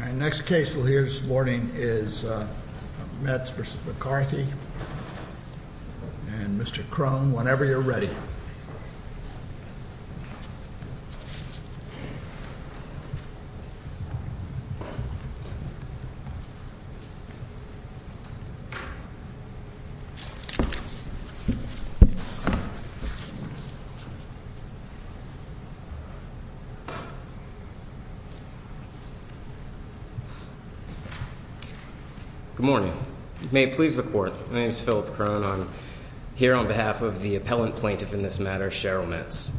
Our next case we'll hear this morning is Metz v. McCarthy and Mr. Crone, whenever you're ready. Good morning. May it please the court. My name is Philip Crone. I'm here on behalf of the appellant plaintiff in this matter, Cheryl Metz.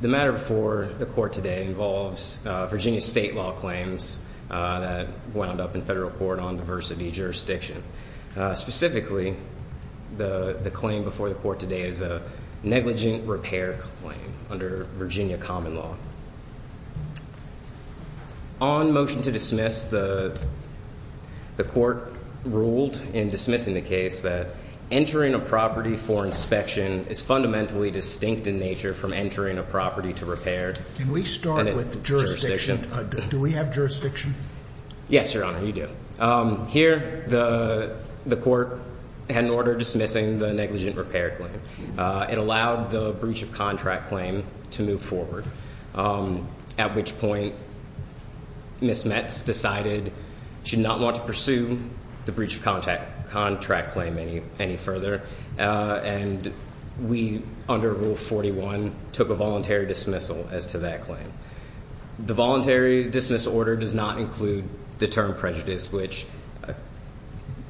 The matter before the court today involves Virginia state law claims that wound up in federal court on diversity jurisdiction. Specifically, the claim before the court today is a negligent repair claim under Virginia common law. On motion to dismiss, the court ruled in dismissing the case that entering a property for inspection is fundamentally distinct in nature from entering a property to repair. Can we start with the jurisdiction? Do we have jurisdiction? Yes, your honor, you do. Here, the court had an order dismissing the negligent repair claim. It allowed the breach of contract claim to move forward, at which point Ms. Metz decided she did not want to pursue the breach of contract claim any further. And we, under rule 41, took a voluntary dismissal as to that claim. The voluntary dismissal order does not include the term prejudice, which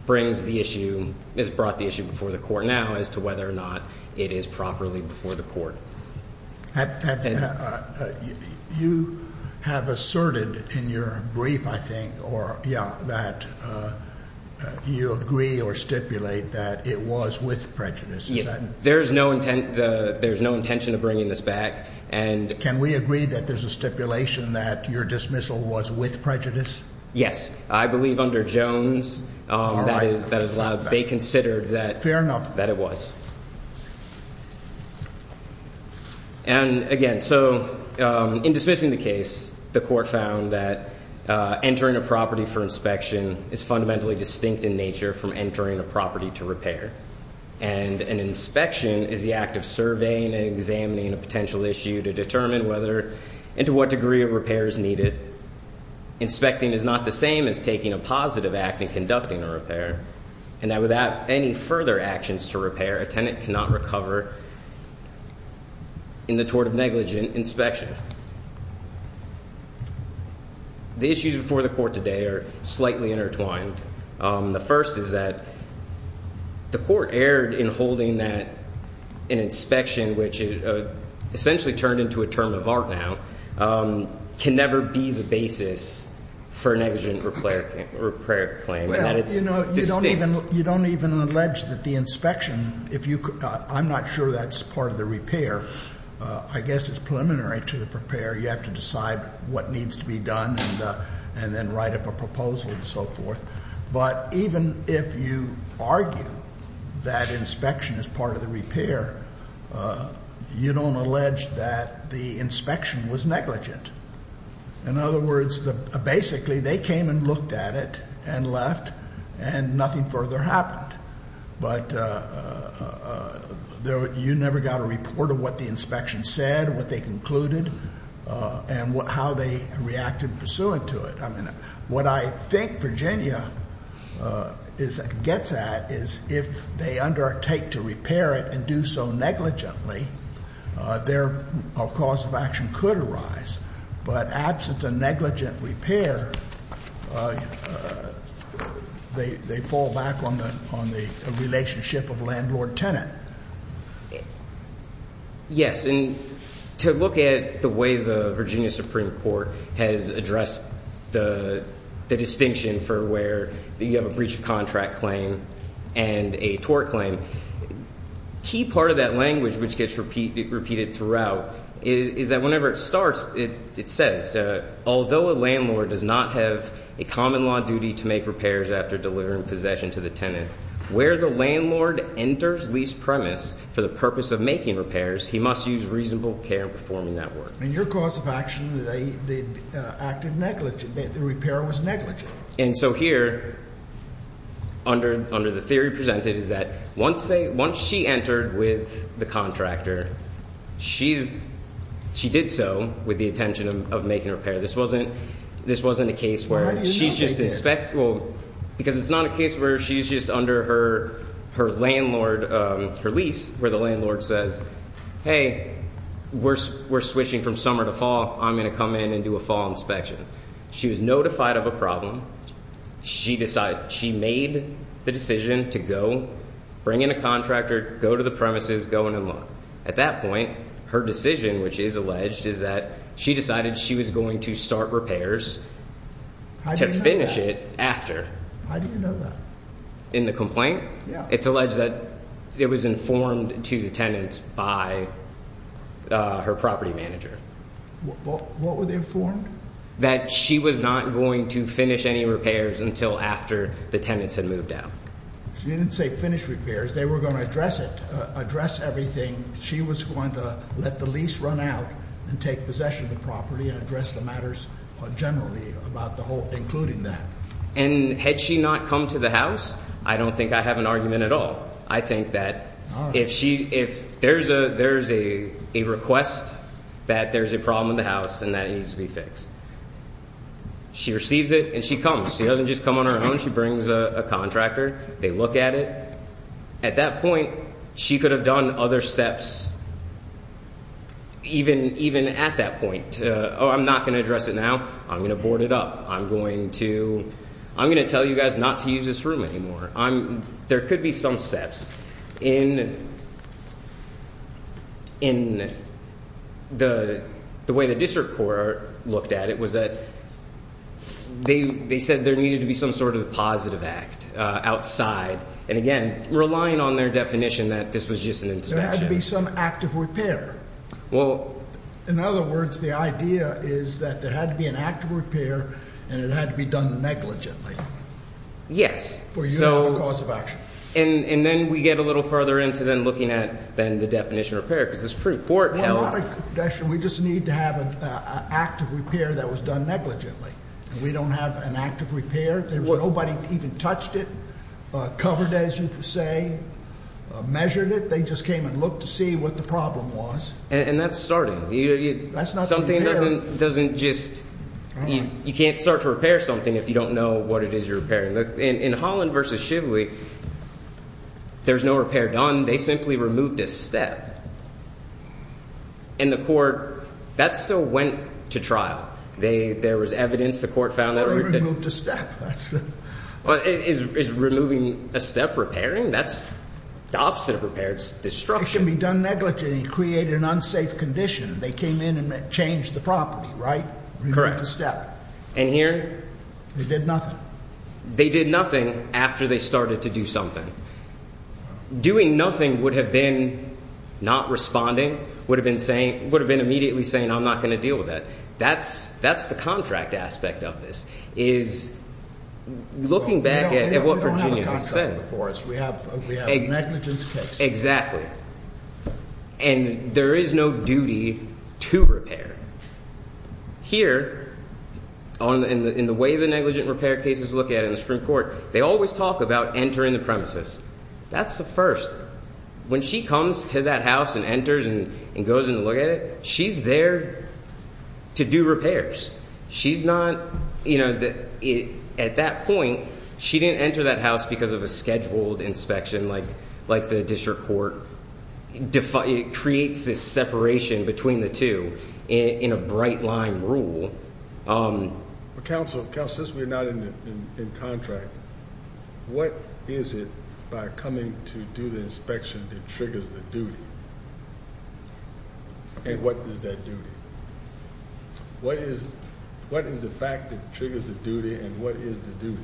brings the issue, has brought the issue before the court now as to whether or not it is properly before the court. You have asserted in your brief, I think, or yeah, that you agree or stipulate that it was with prejudice. Yes. There's no intent, there's no intention of bringing this back. Can we agree that there's a stipulation that your dismissal was with prejudice? Yes, I believe under Jones, they considered that it was. And again, so in dismissing the case, the court found that entering a property for inspection is fundamentally distinct in nature from entering a property to repair. And an inspection is the act of surveying and examining a potential issue to determine whether and to what degree a repair is needed. Inspecting is not the same as taking a positive act and conducting a repair. And that without any further actions to repair, a tenant cannot recover in the tort of negligent inspection. The issues before the court today are slightly intertwined. The first is that the court erred in holding that an inspection, which essentially turned into a term of art now, can never be the basis for a negligent repair claim. You don't even allege that the inspection, I'm not sure that's part of the repair. I guess it's preliminary to the repair. You have to decide what needs to be done and then write up a proposal and so forth. But even if you argue that inspection is part of the repair, you don't allege that the inspection was negligent. In other words, basically they came and looked at it and left and nothing further happened. But you never got a report of what the inspection said, what they concluded, and how they reacted pursuant to it. What I think Virginia gets at is if they undertake to repair it and do so negligently, a cause of action could arise. But absent a negligent repair, they fall back on the relationship of landlord-tenant. Yes, and to look at the way the Virginia Supreme Court has addressed the distinction for where you have a breach of contract claim and a tort claim, key part of that language which gets repeated throughout is that whenever it starts, it says, although a landlord does not have a common law duty to make repairs after delivering possession to the tenant, where the landlord enters lease premise for the purpose of making repairs, he must use reasonable care in performing that work. In your cause of action, they acted negligent. The repair was negligent. And so here, under the theory presented, is that once she entered with the contractor, she did so with the intention of making a repair. This wasn't a case where she's just inspectable, because it's not a case where she's just under her landlord, her lease, where the landlord says, hey, we're switching from summer to fall. I'm going to come in and do a fall inspection. She was notified of a problem. She made the decision to go bring in a contractor, go to the premises, go in and look. At that point, her decision, which is alleged, is that she decided she was going to start repairs to finish it after. How do you know that? In the complaint? Yeah. It's alleged that it was informed to the tenant by her property manager. What were they informed? That she was not going to finish any repairs until after the tenants had moved out. She didn't say finish repairs. They were going to address it, address everything. She was going to let the lease run out and take possession of the property and address the matters generally, including that. And had she not come to the house, I don't think I have an argument at all. I think that if there's a request that there's a problem in the house and that needs to be fixed, she receives it and she comes. She doesn't just come on her own. She brings a contractor. They look at it. At that point, she could have done other steps even at that point. Oh, I'm not going to address it now. I'm going to board it up. I'm going to tell you guys not to use this room anymore. There could be some steps. In the way the district court looked at it was that they said there needed to be some sort of positive act outside. And, again, relying on their definition that this was just an inspection. There had to be some act of repair. In other words, the idea is that there had to be an act of repair and it had to be done negligently. Yes. For you to have a cause of action. And then we get a little further into then looking at then the definition of repair because this court held. We just need to have an act of repair that was done negligently. We don't have an act of repair. Nobody even touched it, covered it, as you say, measured it. They just came and looked to see what the problem was. And that's starting. That's not repair. You can't start to repair something if you don't know what it is you're repairing. In Holland v. Shively, there's no repair done. They simply removed a step. And the court, that still went to trial. There was evidence. The court found that. They removed a step. Is removing a step repairing? That's the opposite of repair. It's destruction. It can be done negligently. It created an unsafe condition. They came in and changed the property, right? Correct. Removed the step. And here? They did nothing. They did nothing after they started to do something. Doing nothing would have been not responding, would have been saying, would have been immediately saying, I'm not going to deal with that. That's the contract aspect of this, is looking back at what Virginia has said. We don't have a contract before us. We have a negligence case. Exactly. And there is no duty to repair. Here, in the way the negligent repair case is looked at in the Supreme Court, they always talk about entering the premises. That's the first. When she comes to that house and enters and goes in to look at it, she's there to do repairs. She's not, you know, at that point, she didn't enter that house because of a scheduled inspection, like the district court creates this separation between the two. It's a separate, in a bright line rule. Counsel, since we're not in contract, what is it by coming to do the inspection that triggers the duty? And what is that duty? What is the fact that triggers the duty and what is the duty?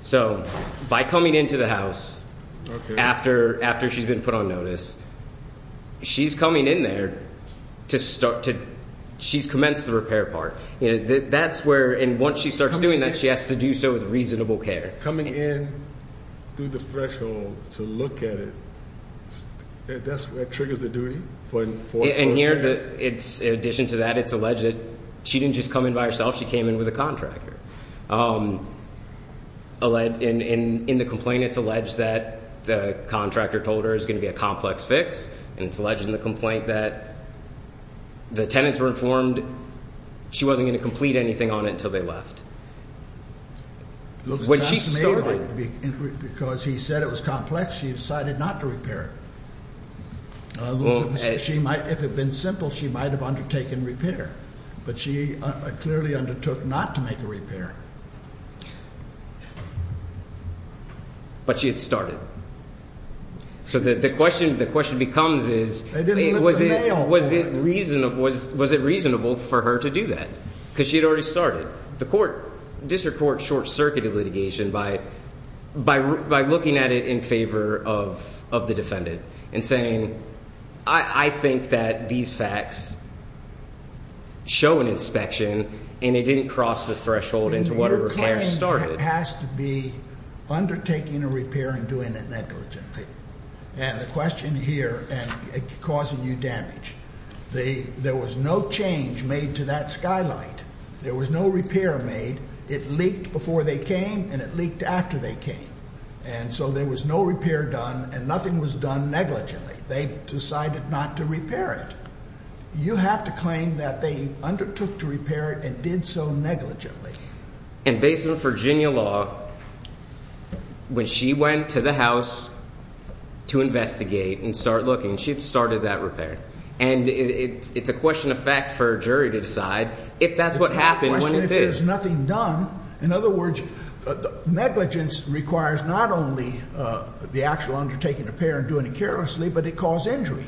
So, by coming into the house after she's been put on notice, she's coming in there to start to, she's commenced the repair part. That's where, and once she starts doing that, she has to do so with reasonable care. Coming in through the threshold to look at it, that's what triggers the duty? And here, in addition to that, it's alleged that she didn't just come in by herself. She came in with a contractor. In the complaint, it's alleged that the contractor told her it was going to be a complex fix. And it's alleged in the complaint that the tenants were informed she wasn't going to complete anything on it until they left. When she started. Because he said it was complex, she decided not to repair it. If it had been simple, she might have undertaken repair. But she clearly undertook not to make a repair. But she had started. So the question becomes is, was it reasonable for her to do that? Because she had already started. The court, district court short-circuited litigation by looking at it in favor of the defendant and saying, I think that these facts show an inspection and it didn't cross the threshold into what a repair started. It has to be undertaking a repair and doing it negligently. And the question here, and causing you damage, there was no change made to that skylight. There was no repair made. It leaked before they came and it leaked after they came. And so there was no repair done and nothing was done negligently. They decided not to repair it. You have to claim that they undertook to repair it and did so negligently. And based on Virginia law, when she went to the house to investigate and start looking, she had started that repair. And it's a question of fact for a jury to decide if that's what happened when it did. But there's nothing done. In other words, negligence requires not only the actual undertaking a repair and doing it carelessly, but it caused injury.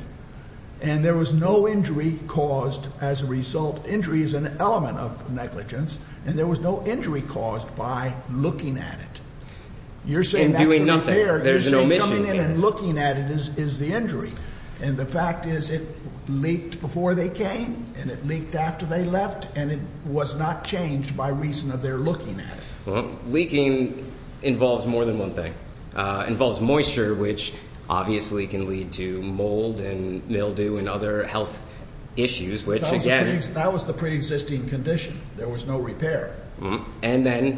And there was no injury caused as a result. Injury is an element of negligence. And there was no injury caused by looking at it. You're saying that's a repair. There's no missing. Coming in and looking at it is the injury. And the fact is it leaked before they came and it leaked after they left, and it was not changed by reason of their looking at it. Leaking involves more than one thing. It involves moisture, which obviously can lead to mold and mildew and other health issues. That was the preexisting condition. There was no repair. And then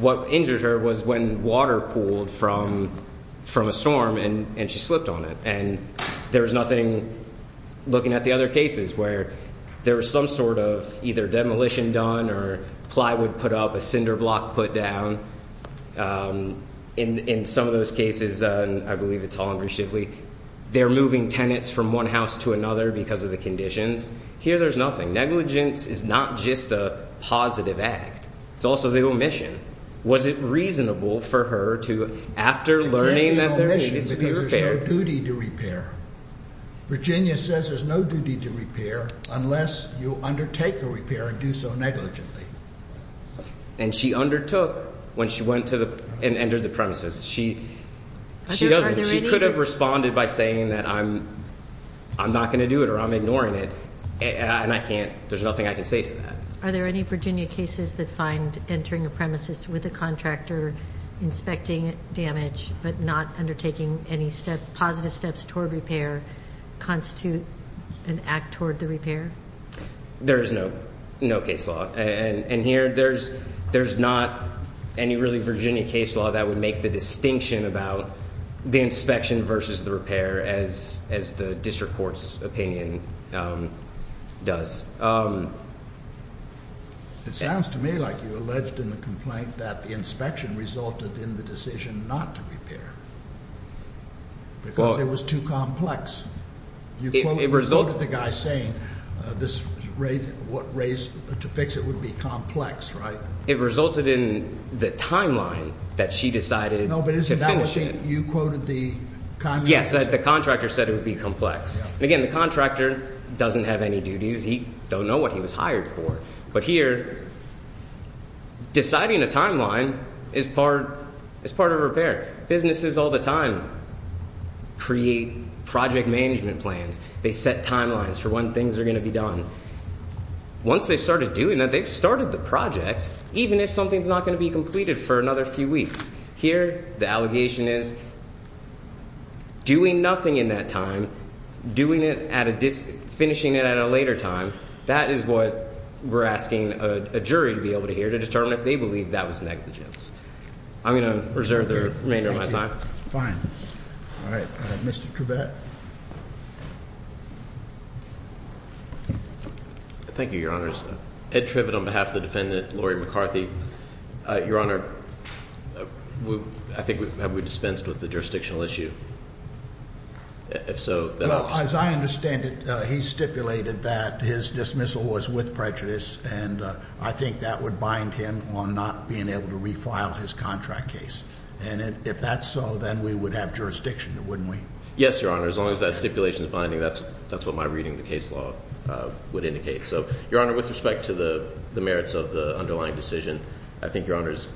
what injured her was when water pooled from a storm and she slipped on it. And there was nothing looking at the other cases where there was some sort of either demolition done or plywood put up, a cinder block put down. In some of those cases, I believe it's Holland v. Shively, they're moving tenants from one house to another because of the conditions. Here there's nothing. Negligence is not just a positive act. It's also the omission. Was it reasonable for her to, after learning that there was a repair? There's no duty to repair. Virginia says there's no duty to repair unless you undertake a repair and do so negligently. And she undertook when she went and entered the premises. She could have responded by saying that I'm not going to do it or I'm ignoring it, and there's nothing I can say to that. Are there any Virginia cases that find entering a premises with a contractor, inspecting damage but not undertaking any positive steps toward repair constitute an act toward the repair? There is no case law. And here there's not any really Virginia case law that would make the distinction about the inspection versus the repair as the district court's opinion does. It sounds to me like you alleged in the complaint that the inspection resulted in the decision not to repair because it was too complex. You quoted the guy saying what race to fix it would be complex, right? It resulted in the timeline that she decided to finish it. No, but isn't that what you quoted the congressman? Yes, the contractor said it would be complex. Again, the contractor doesn't have any duties. He doesn't know what he was hired for. But here deciding a timeline is part of repair. Businesses all the time create project management plans. They set timelines for when things are going to be done. Once they've started doing that, they've started the project, even if something's not going to be completed for another few weeks. Here the allegation is doing nothing in that time, doing it at a finishing it at a later time. That is what we're asking a jury to be able to hear to determine if they believe that was negligence. I'm going to reserve the remainder of my time. All right. Mr. Trivette. Thank you, Your Honors. Ed Trivette on behalf of the defendant, Lori McCarthy. Your Honor, I think have we dispensed with the jurisdictional issue? If so, that helps. As I understand it, he stipulated that his dismissal was with prejudice, and I think that would bind him on not being able to refile his contract case. And if that's so, then we would have jurisdiction, wouldn't we? Yes, Your Honor. As long as that stipulation is binding, that's what my reading of the case law would indicate. So, Your Honor, with respect to the merits of the underlying decision, I think Your Honor's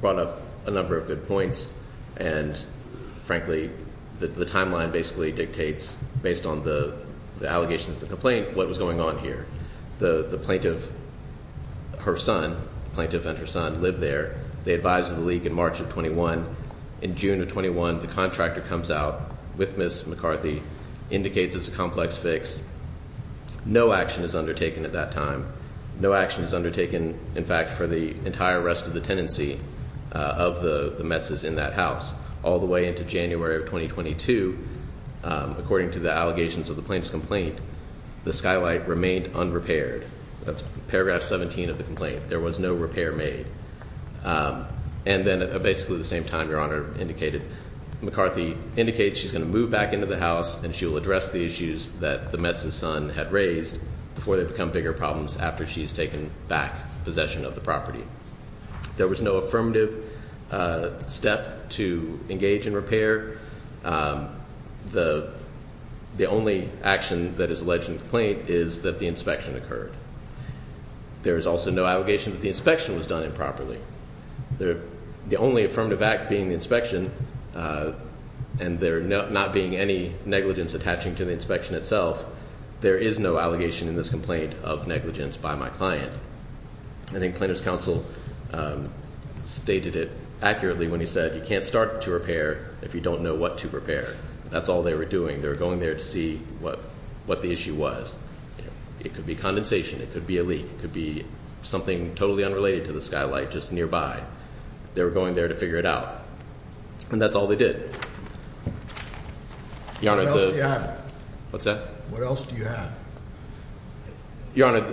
brought up a number of good points. And frankly, the timeline basically dictates, based on the allegations of the complaint, what was going on here. The plaintiff, her son, plaintiff and her son, live there. They advise the league in March of 21. In June of 21, the contractor comes out with Ms. McCarthy, indicates it's a complex fix. No action is undertaken at that time. No action is undertaken, in fact, for the entire rest of the tenancy of the Mets' in that house. All the way into January of 2022, according to the allegations of the plaintiff's complaint, the skylight remained unrepaired. That's paragraph 17 of the complaint. There was no repair made. And then, basically at the same time, Your Honor indicated, McCarthy indicates she's going to move back into the house and she will address the issues that the Mets' son had raised before they become bigger problems after she's taken back possession of the property. There was no affirmative step to engage in repair. The only action that is alleged in the complaint is that the inspection occurred. There is also no allegation that the inspection was done improperly. The only affirmative act being inspection and there not being any negligence attaching to the inspection itself, there is no allegation in this complaint of negligence by my client. I think plaintiff's counsel stated it accurately when he said, you can't start to repair if you don't know what to repair. That's all they were doing. They were going there to see what the issue was. It could be condensation. It could be a leak. It could be something totally unrelated to the skylight just nearby. They were going there to figure it out. And that's all they did. Your Honor, the- What else do you have? What's that? What else do you have? Your Honor,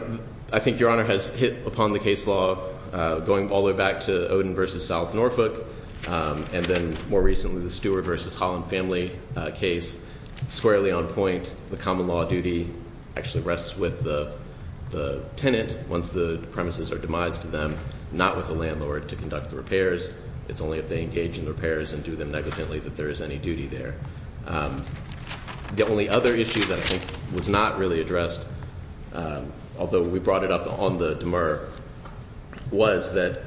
I think Your Honor has hit upon the case law going all the way back to Oden v. South Norfolk, and then more recently the Stewart v. Holland family case squarely on point. The common law duty actually rests with the tenant once the premises are demised to them, not with the landlord to conduct the repairs. It's only if they engage in the repairs and do them negligently that there is any duty there. The only other issue that I think was not really addressed, although we brought it up on the demur, was that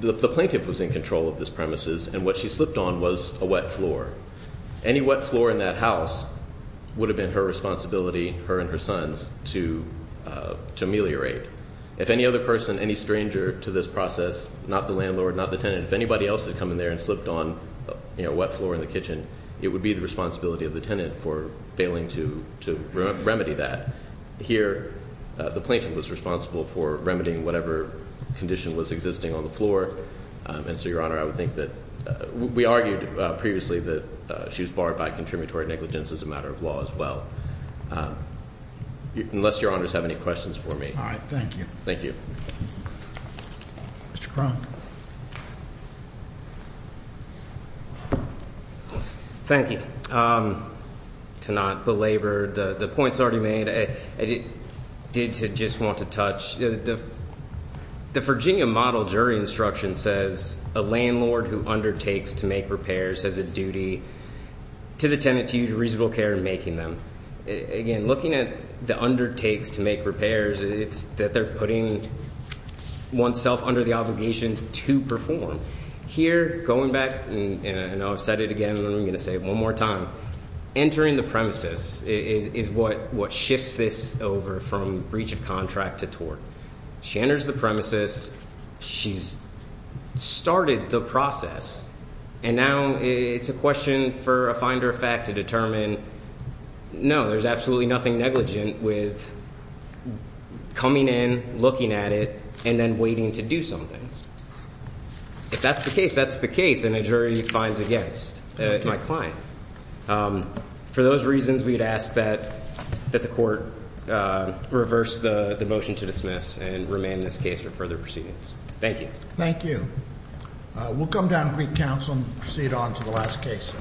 the plaintiff was in control of this premises, and what she slipped on was a wet floor. Any wet floor in that house would have been her responsibility, her and her sons, to ameliorate. If any other person, any stranger to this process, not the landlord, not the tenant, if anybody else had come in there and slipped on a wet floor in the kitchen, it would be the responsibility of the tenant for failing to remedy that. Here, the plaintiff was responsible for remedying whatever condition was existing on the floor. We argued previously that she was barred by contributory negligence as a matter of law as well. Unless your honors have any questions for me. All right. Thank you. Thank you. Mr. Kronk. Thank you. To not belabor the points already made, I did just want to touch. The Virginia model jury instruction says a landlord who undertakes to make repairs has a duty to the tenant to use reasonable care in making them. Again, looking at the undertakes to make repairs, it's that they're putting oneself under the obligation to perform. Here, going back, and I've said it again and I'm going to say it one more time, entering the premises is what shifts this over from breach of contract to tort. She enters the premises, she's started the process, and now it's a question for a finder of fact to determine, no, there's absolutely nothing negligent with coming in, looking at it, and then waiting to do something. If that's the case, that's the case, and a jury finds against. It might find. For those reasons, we'd ask that the court reverse the motion to dismiss and remain in this case for further proceedings. Thank you. Thank you. We'll come down to Greek Council and proceed on to the last case.